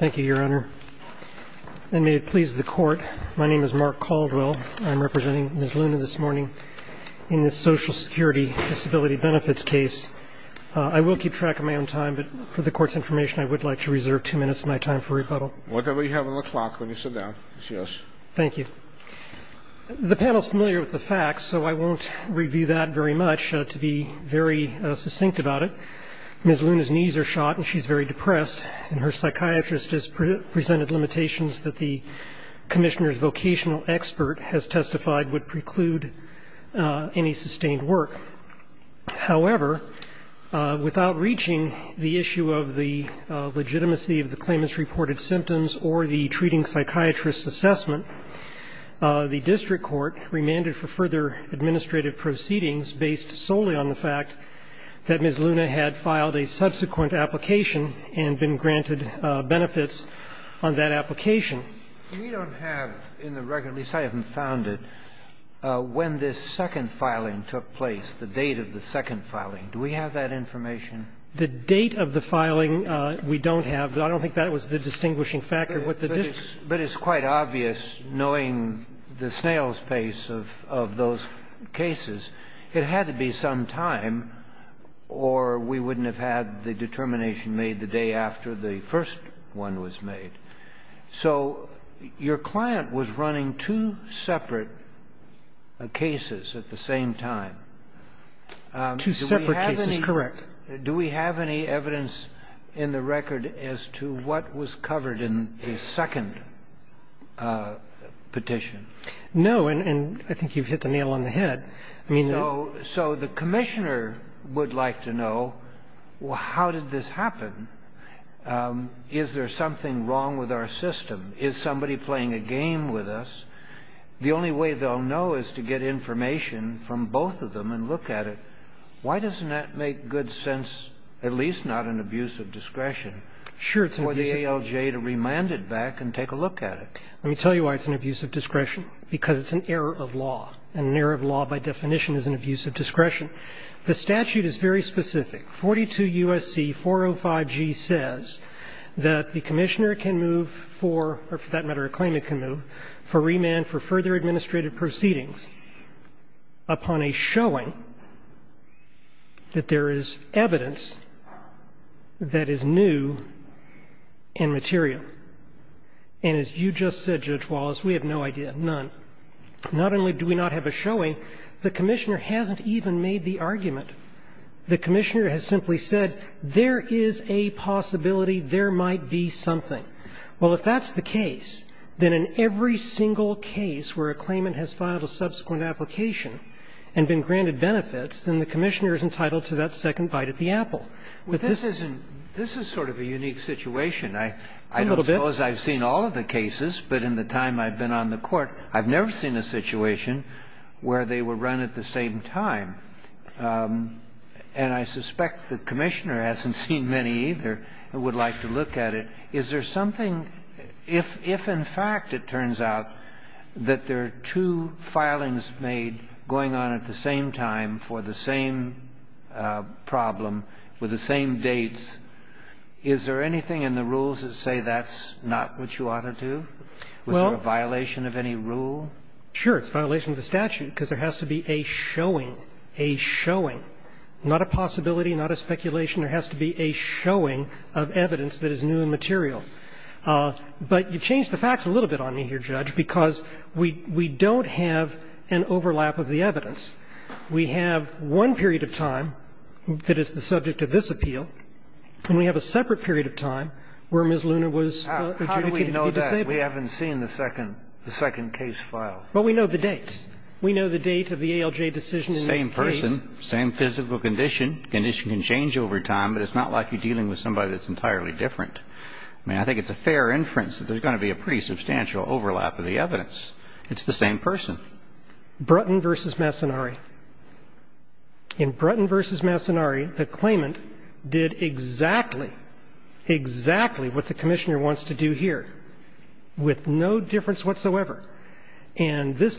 Thank you, Your Honor. And may it please the Court, my name is Mark Caldwell. I'm representing Ms. Luna this morning in this Social Security Disability Benefits case. I will keep track of my own time, but for the Court's information, I would like to reserve two minutes of my time for rebuttal. Whatever you have on the clock when you sit down, yes. Thank you. The panel is familiar with the facts, so I won't review that very much. To be very succinct about it, Ms. Luna's knees are shot and she's very depressed. Her psychiatrist has presented limitations that the Commissioner's vocational expert has testified would preclude any sustained work. However, without reaching the issue of the legitimacy of the claimant's reported symptoms or the treating psychiatrist's assessment, the district court remanded for further administrative proceedings based solely on the fact that Ms. Luna had filed a subsequent application and been granted benefits on that application. We don't have in the record, at least I haven't found it, when this second filing took place, the date of the second filing. Do we have that information? The date of the filing we don't have. I don't think that was the distinguishing factor. But it's quite obvious, knowing the snail's pace of those cases, it had to be some time, or we wouldn't have had the determination made the day after the first one was made. So your client was running two separate cases at the same time. Two separate cases, correct. Do we have any evidence in the record as to what was covered in the second petition? No. And I think you've hit the nail on the head. So the Commissioner would like to know, well, how did this happen? Is there something wrong with our system? Is somebody playing a game with us? The only way they'll know is to get information from both of them and look at it. Why doesn't that make good sense, at least not an abuse of discretion, for the ALJ to remand it back and take a look at it? Let me tell you why it's an abuse of discretion. Because it's an error of law, and an error of law, by definition, is an abuse of discretion. The statute is very specific. 42 U.S.C. 405g says that the Commissioner can move for, or for that matter, a claim to move for remand for further administrative proceedings upon a showing that there is evidence that is new and material. And as you just said, Judge Wallace, we have no idea, none. Not only do we not have a showing, the Commissioner hasn't even made the argument. The Commissioner has simply said there is a possibility there might be something. Well, if that's the case, then in every single case where a claimant has filed a subsequent application and been granted benefits, then the Commissioner is entitled to that second bite at the apple. But this isn't this is sort of a unique situation. A little bit. I don't suppose I've seen all of the cases, but in the time I've been on the Court, I've never seen a situation where they were run at the same time. And I suspect the Commissioner hasn't seen many either and would like to look at it. Is there something, if in fact it turns out that there are two filings made going on at the same time for the same problem with the same dates, is there anything in the rules that say that's not what you ought to do? Was there a violation of any rule? Sure. It's a violation of the statute because there has to be a showing, a showing, not a possibility, not a speculation. There has to be a showing of evidence that is new and material. But you've changed the facts a little bit on me here, Judge, because we don't have an overlap of the evidence. We have one period of time that is the subject of this appeal, and we have a separate period of time where Ms. Luner was adjudicated to be disabled. How do we know that? We haven't seen the second case file. Well, we know the dates. We know the date of the ALJ decision in this case. Same person, same physical condition. Condition can change over time, but it's not like you're dealing with somebody that's entirely different. I mean, I think it's a fair inference that there's going to be a pretty substantial overlap of the evidence. It's the same person. Brutton v. Massonari. In Brutton v. Massonari, the claimant did exactly, exactly what the Commissioner wants to do here with no difference whatsoever. Those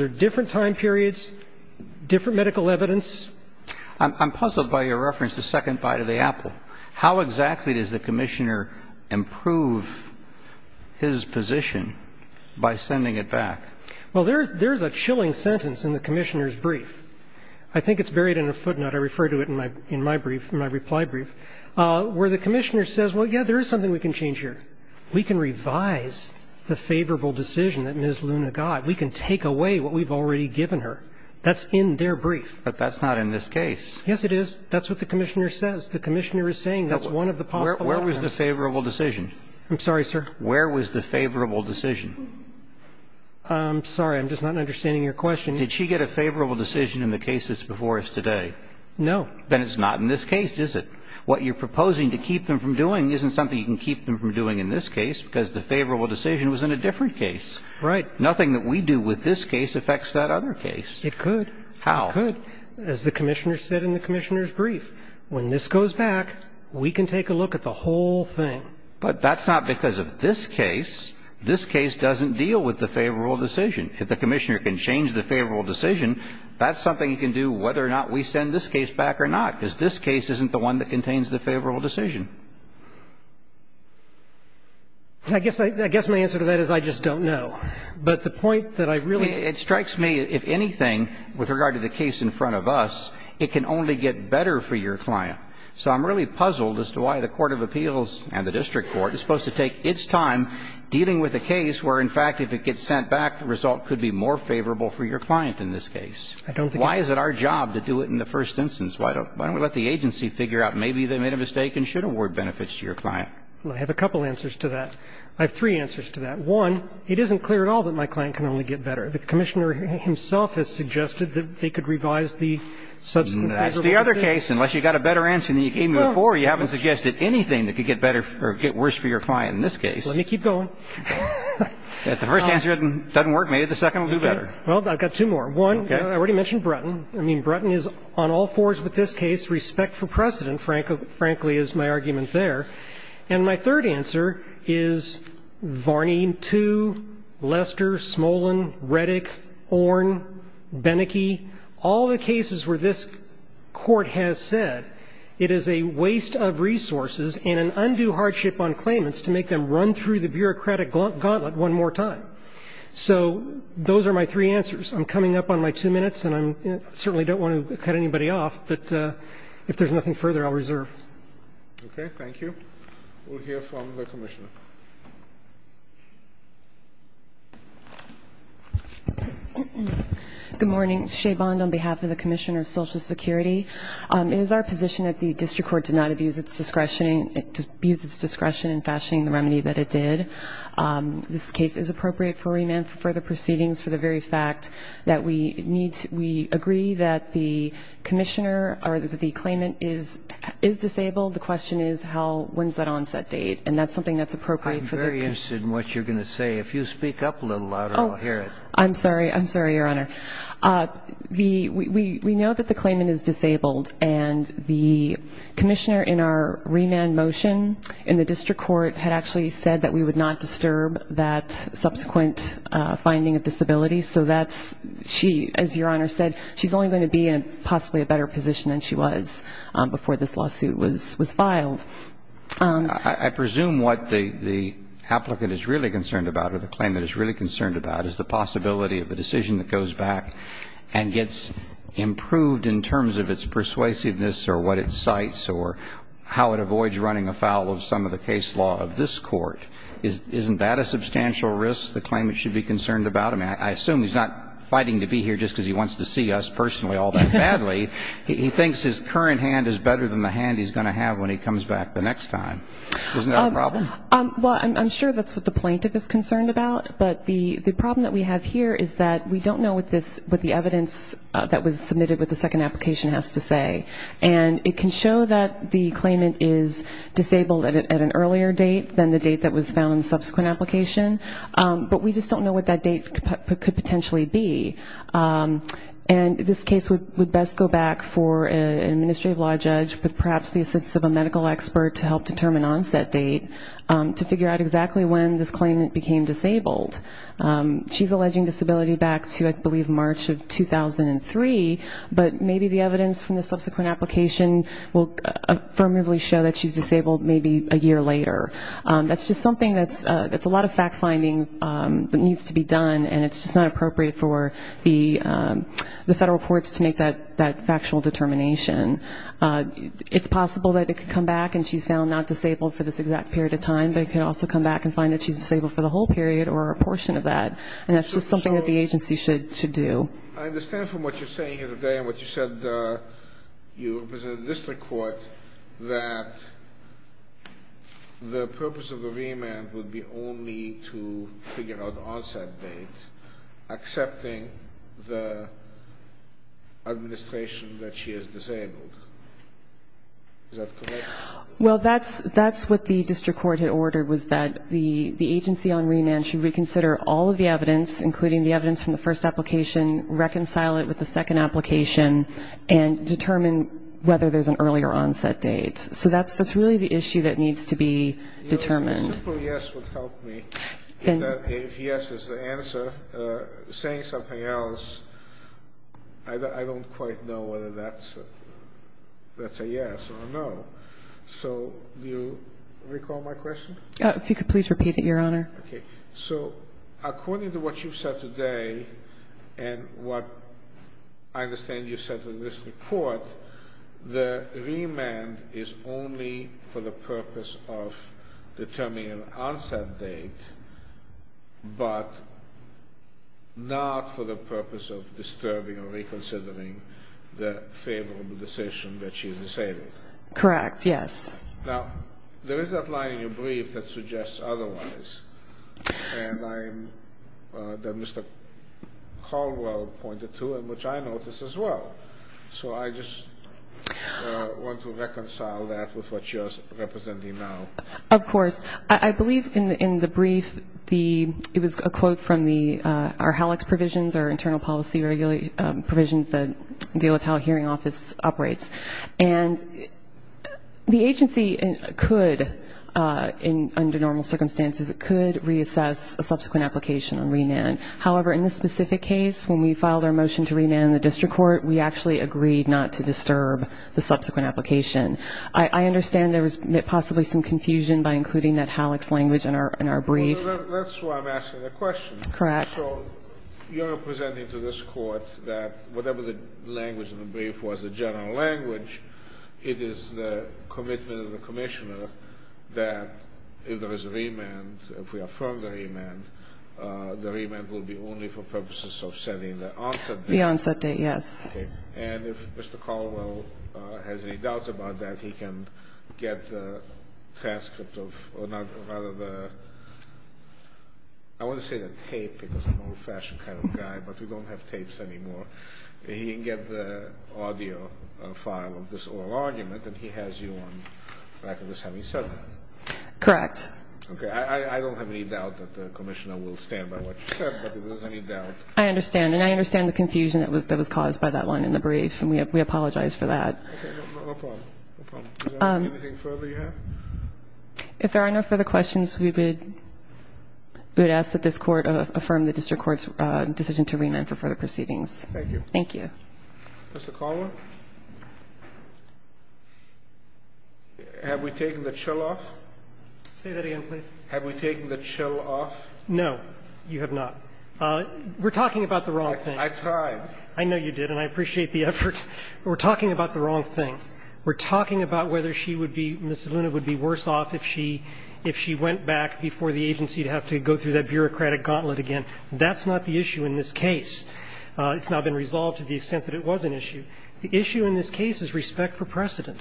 are different time periods, different medical evidence. I'm puzzled by your reference to second bite of the apple. How exactly does the Commissioner improve his position by sending it back? Well, there's a chilling sentence in the Commissioner's brief. I think it's buried in a footnote. I refer to it in my brief, in my reply brief, where the Commissioner says, well, yeah, there is something we can change here. We can revise the favorable decision that Ms. Luner got. We can take away what we've already given her. That's in their brief. But that's not in this case. Yes, it is. That's what the Commissioner says. The Commissioner is saying that's one of the possible outcomes. Where was the favorable decision? I'm sorry, sir. Where was the favorable decision? I'm sorry. I'm just not understanding your question. Did she get a favorable decision in the case that's before us today? No. Then it's not in this case, is it? What you're proposing to keep them from doing isn't something you can keep them from doing in this case because the favorable decision was in a different case. Right. Nothing that we do with this case affects that other case. It could. How? It could. As the Commissioner said in the Commissioner's brief, when this goes back, we can take a look at the whole thing. But that's not because of this case. This case doesn't deal with the favorable decision. If the Commissioner can change the favorable decision, that's something he can do whether or not we send this case back or not, because this case isn't the one that contains the favorable decision. I guess my answer to that is I just don't know. But the point that I really don't know. It strikes me, if anything, with regard to the case in front of us, it can only get better for your client. So I'm really puzzled as to why the court of appeals and the district court is supposed to take its time dealing with a case where, in fact, if it gets sent back, the result could be more favorable for your client in this case. I don't think it is. Why is it our job to do it in the first instance? Why don't we let the agency figure out maybe they made a mistake and should have worked with the agency to get a better result, because that's what the Court of Appeals It doesn't put forward benefits to your client. I have a couple answers to that. I have three answers to that. One, it isn't clear at all that my client can only get better. The Commissioner himself has suggested that they could revise the subsequent favorable decisions. That's the other case. Unless you've got a better answer than you gave me before, you haven't suggested anything that could get better or get worse for your client in this case. Let me keep going. If the first answer doesn't work, maybe the second will do better. Okay. Well, I've got two more. One, I already mentioned Brutton. I mean, Brutton is on all fours with this case. Respect for precedent, frankly, is my argument there. And my third answer is Varneen 2, Lester, Smolin, Reddick, Orn, Beneke, all the cases where this Court has said it is a waste of resources and an undue hardship on claimants to make them run through the bureaucratic gauntlet one more time. So those are my three answers. I'm coming up on my two minutes, and I certainly don't want to cut anybody off, but if there's nothing further, I'll reserve. Okay. Thank you. We'll hear from the Commissioner. Good morning. Shea Bond on behalf of the Commissioner of Social Security. It is our position that the district court did not abuse its discretion in fashioning the remedy that it did. This case is appropriate for remand for further proceedings for the very fact that we need to we agree that the Commissioner or the claimant is disabled. The question is how, when is that onset date? And that's something that's appropriate for the Commission. I'm very interested in what you're going to say. If you speak up a little louder, I'll hear it. I'm sorry. I'm sorry, Your Honor. We know that the claimant is disabled, and the Commissioner in our remand motion in the district court had actually said that we would not disturb that subsequent finding of disability. So that's she, as Your Honor said, she's only going to be in possibly a better position than she was before this lawsuit was filed. I presume what the applicant is really concerned about or the claimant is really concerned about is the possibility of a decision that goes back and gets improved in terms of its persuasiveness or what it cites or how it avoids running afoul of some of the case law of this court. Isn't that a substantial risk the claimant should be concerned about? I mean, I assume he's not fighting to be here just because he wants to see us personally all that badly. He thinks his current hand is better than the hand he's going to have when he comes back the next time. Isn't that a problem? Well, I'm sure that's what the plaintiff is concerned about. But the problem that we have here is that we don't know what the evidence that was submitted with the second application has to say. And it can show that the claimant is disabled at an earlier date than the date that was found in the subsequent application, but we just don't know what that date could potentially be. And this case would best go back for an administrative law judge with perhaps the assistance of a medical expert to help determine onset date to figure out exactly when this claimant became disabled. She's alleging disability back to, I believe, March of 2003, but maybe the evidence from the subsequent application will affirmatively show that she's disabled maybe a year later. That's just something that's a lot of fact-finding that needs to be done, and it's just not appropriate for the federal courts to make that factual determination. It's possible that it could come back and she's found not disabled for this exact period of time, but it could also come back and find that she's disabled for the whole period or a portion of that, and that's just something that the agency should do. I understand from what you're saying here today and what you said you represented the district court that the purpose of the remand would be only to figure out onset date, accepting the administration that she is disabled. Is that correct? Well, that's what the district court had ordered, was that the agency on remand should reconsider all of the evidence, including the evidence from the first application, reconcile it with the second application, and determine whether there's an earlier onset date. So that's really the issue that needs to be determined. A simple yes would help me. If yes is the answer, saying something else, I don't quite know whether that's a yes or a no. So do you recall my question? If you could please repeat it, Your Honor. Okay. So according to what you said today and what I understand you said in this report, the remand is only for the purpose of determining an onset date, but not for the purpose of disturbing or reconsidering the favorable decision that she is disabled. Correct, yes. Now, there is that line in your brief that suggests otherwise, and that Mr. Caldwell pointed to and which I noticed as well. So I just want to reconcile that with what you're representing now. Of course. I believe in the brief it was a quote from our HALEX provisions, our internal policy provisions that deal with how a hearing office operates. And the agency could, under normal circumstances, it could reassess a subsequent application on remand. However, in this specific case, when we filed our motion to remand in the district court, we actually agreed not to disturb the subsequent application. I understand there was possibly some confusion by including that HALEX language in our brief. Well, that's why I'm asking that question. Correct. So you're presenting to this Court that whatever the language of the brief was, the general language, it is the commitment of the Commissioner that if there is a remand, if we affirm the remand, the remand will be only for purposes of setting the onset date. The onset date, yes. Okay. And if Mr. Caldwell has any doubts about that, he can get the transcript of, or rather the, I want to say the tape because I'm an old-fashioned kind of guy, but we don't have tapes anymore. He can get the audio file of this oral argument, and he has you on back of the semicircle. Correct. Okay. I don't have any doubt that the Commissioner will stand by what you said, but if there's any doubt. I understand. And I understand the confusion that was caused by that line in the brief, and we apologize for that. Okay. No problem. No problem. Is there anything further you have? If there are no further questions, we would ask that this Court affirm the district court's decision to remand for further proceedings. Thank you. Thank you. Mr. Caldwell? Have we taken the chill off? Say that again, please. Have we taken the chill off? No, you have not. We're talking about the wrong thing. I tried. I know you did, and I appreciate the effort. We're talking about the wrong thing. We're talking about whether she would be Mrs. Luna would be worse off if she went back before the agency would have to go through that bureaucratic gauntlet again. That's not the issue in this case. It's not been resolved to the extent that it was an issue. The issue in this case is respect for precedent.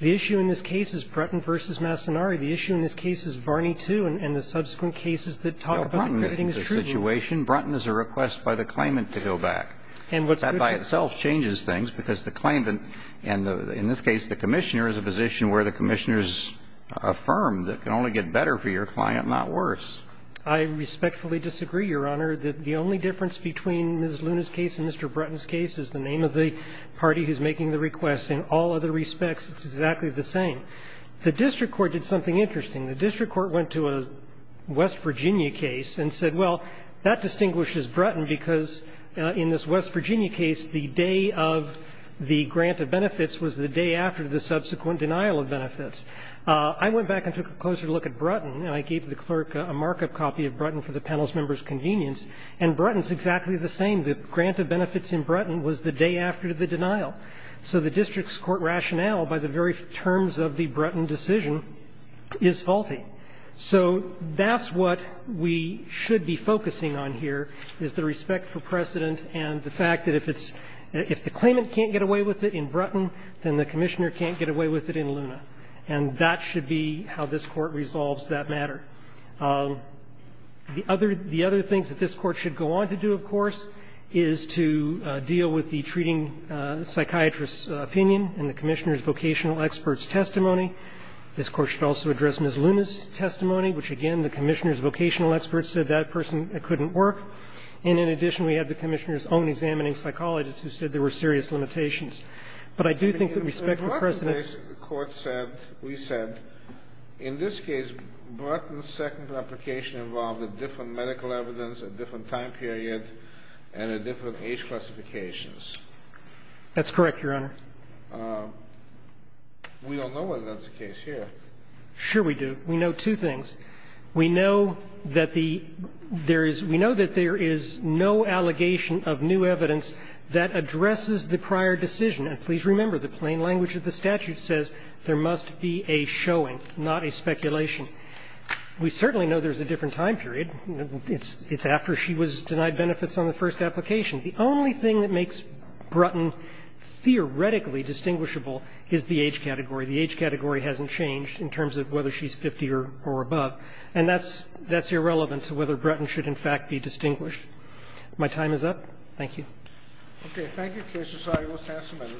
The issue in this case is Bretton v. Massonari. The issue in this case is Barney II, and the subsequent cases that talk about the situation, Bretton is a request by the claimant to go back. That by itself changes things because the claimant, and in this case the commissioner, is a position where the commissioner is affirmed. It can only get better for your client, not worse. I respectfully disagree, Your Honor, that the only difference between Mrs. Luna's case and Mr. Bretton's case is the name of the party who's making the request. In all other respects, it's exactly the same. The district court did something interesting. The district court went to a West Virginia case and said, well, that distinguishes Bretton, because in this West Virginia case, the day of the grant of benefits was the day after the subsequent denial of benefits. I went back and took a closer look at Bretton, and I gave the clerk a markup copy of Bretton for the panel's members' convenience, and Bretton's exactly the same. The grant of benefits in Bretton was the day after the denial. So the district's court rationale by the very terms of the Bretton decision is faulty. So that's what we should be focusing on here is the respect for precedent and the fact that if it's – if the claimant can't get away with it in Bretton, then the commissioner can't get away with it in Luna. And that should be how this Court resolves that matter. The other – the other things that this Court should go on to do, of course, is to deal with the treating psychiatrist's opinion and the commissioner's vocational expert's testimony. This Court should also address Ms. Luna's testimony, which, again, the commissioner's vocational expert said that person couldn't work. And in addition, we had the commissioner's own examining psychologist who said there were serious limitations. But I do think that respect for precedent – Kennedy, the Bretton case, the Court said, we said, in this case, Bretton's second replication involved a different medical evidence, a different time period, and a different age classification. That's correct, Your Honor. We don't know whether that's the case here. Sure we do. We know two things. We know that the – there is – we know that there is no allegation of new evidence that addresses the prior decision. And please remember, the plain language of the statute says there must be a showing, not a speculation. We certainly know there's a different time period. It's after she was denied benefits on the first application. The only thing that makes Bretton theoretically distinguishable is the age category. The age category hasn't changed in terms of whether she's 50 or above. And that's – that's irrelevant to whether Bretton should, in fact, be distinguished. My time is up. Thank you. Okay. Thank you, Case Society. We'll stand for a minute.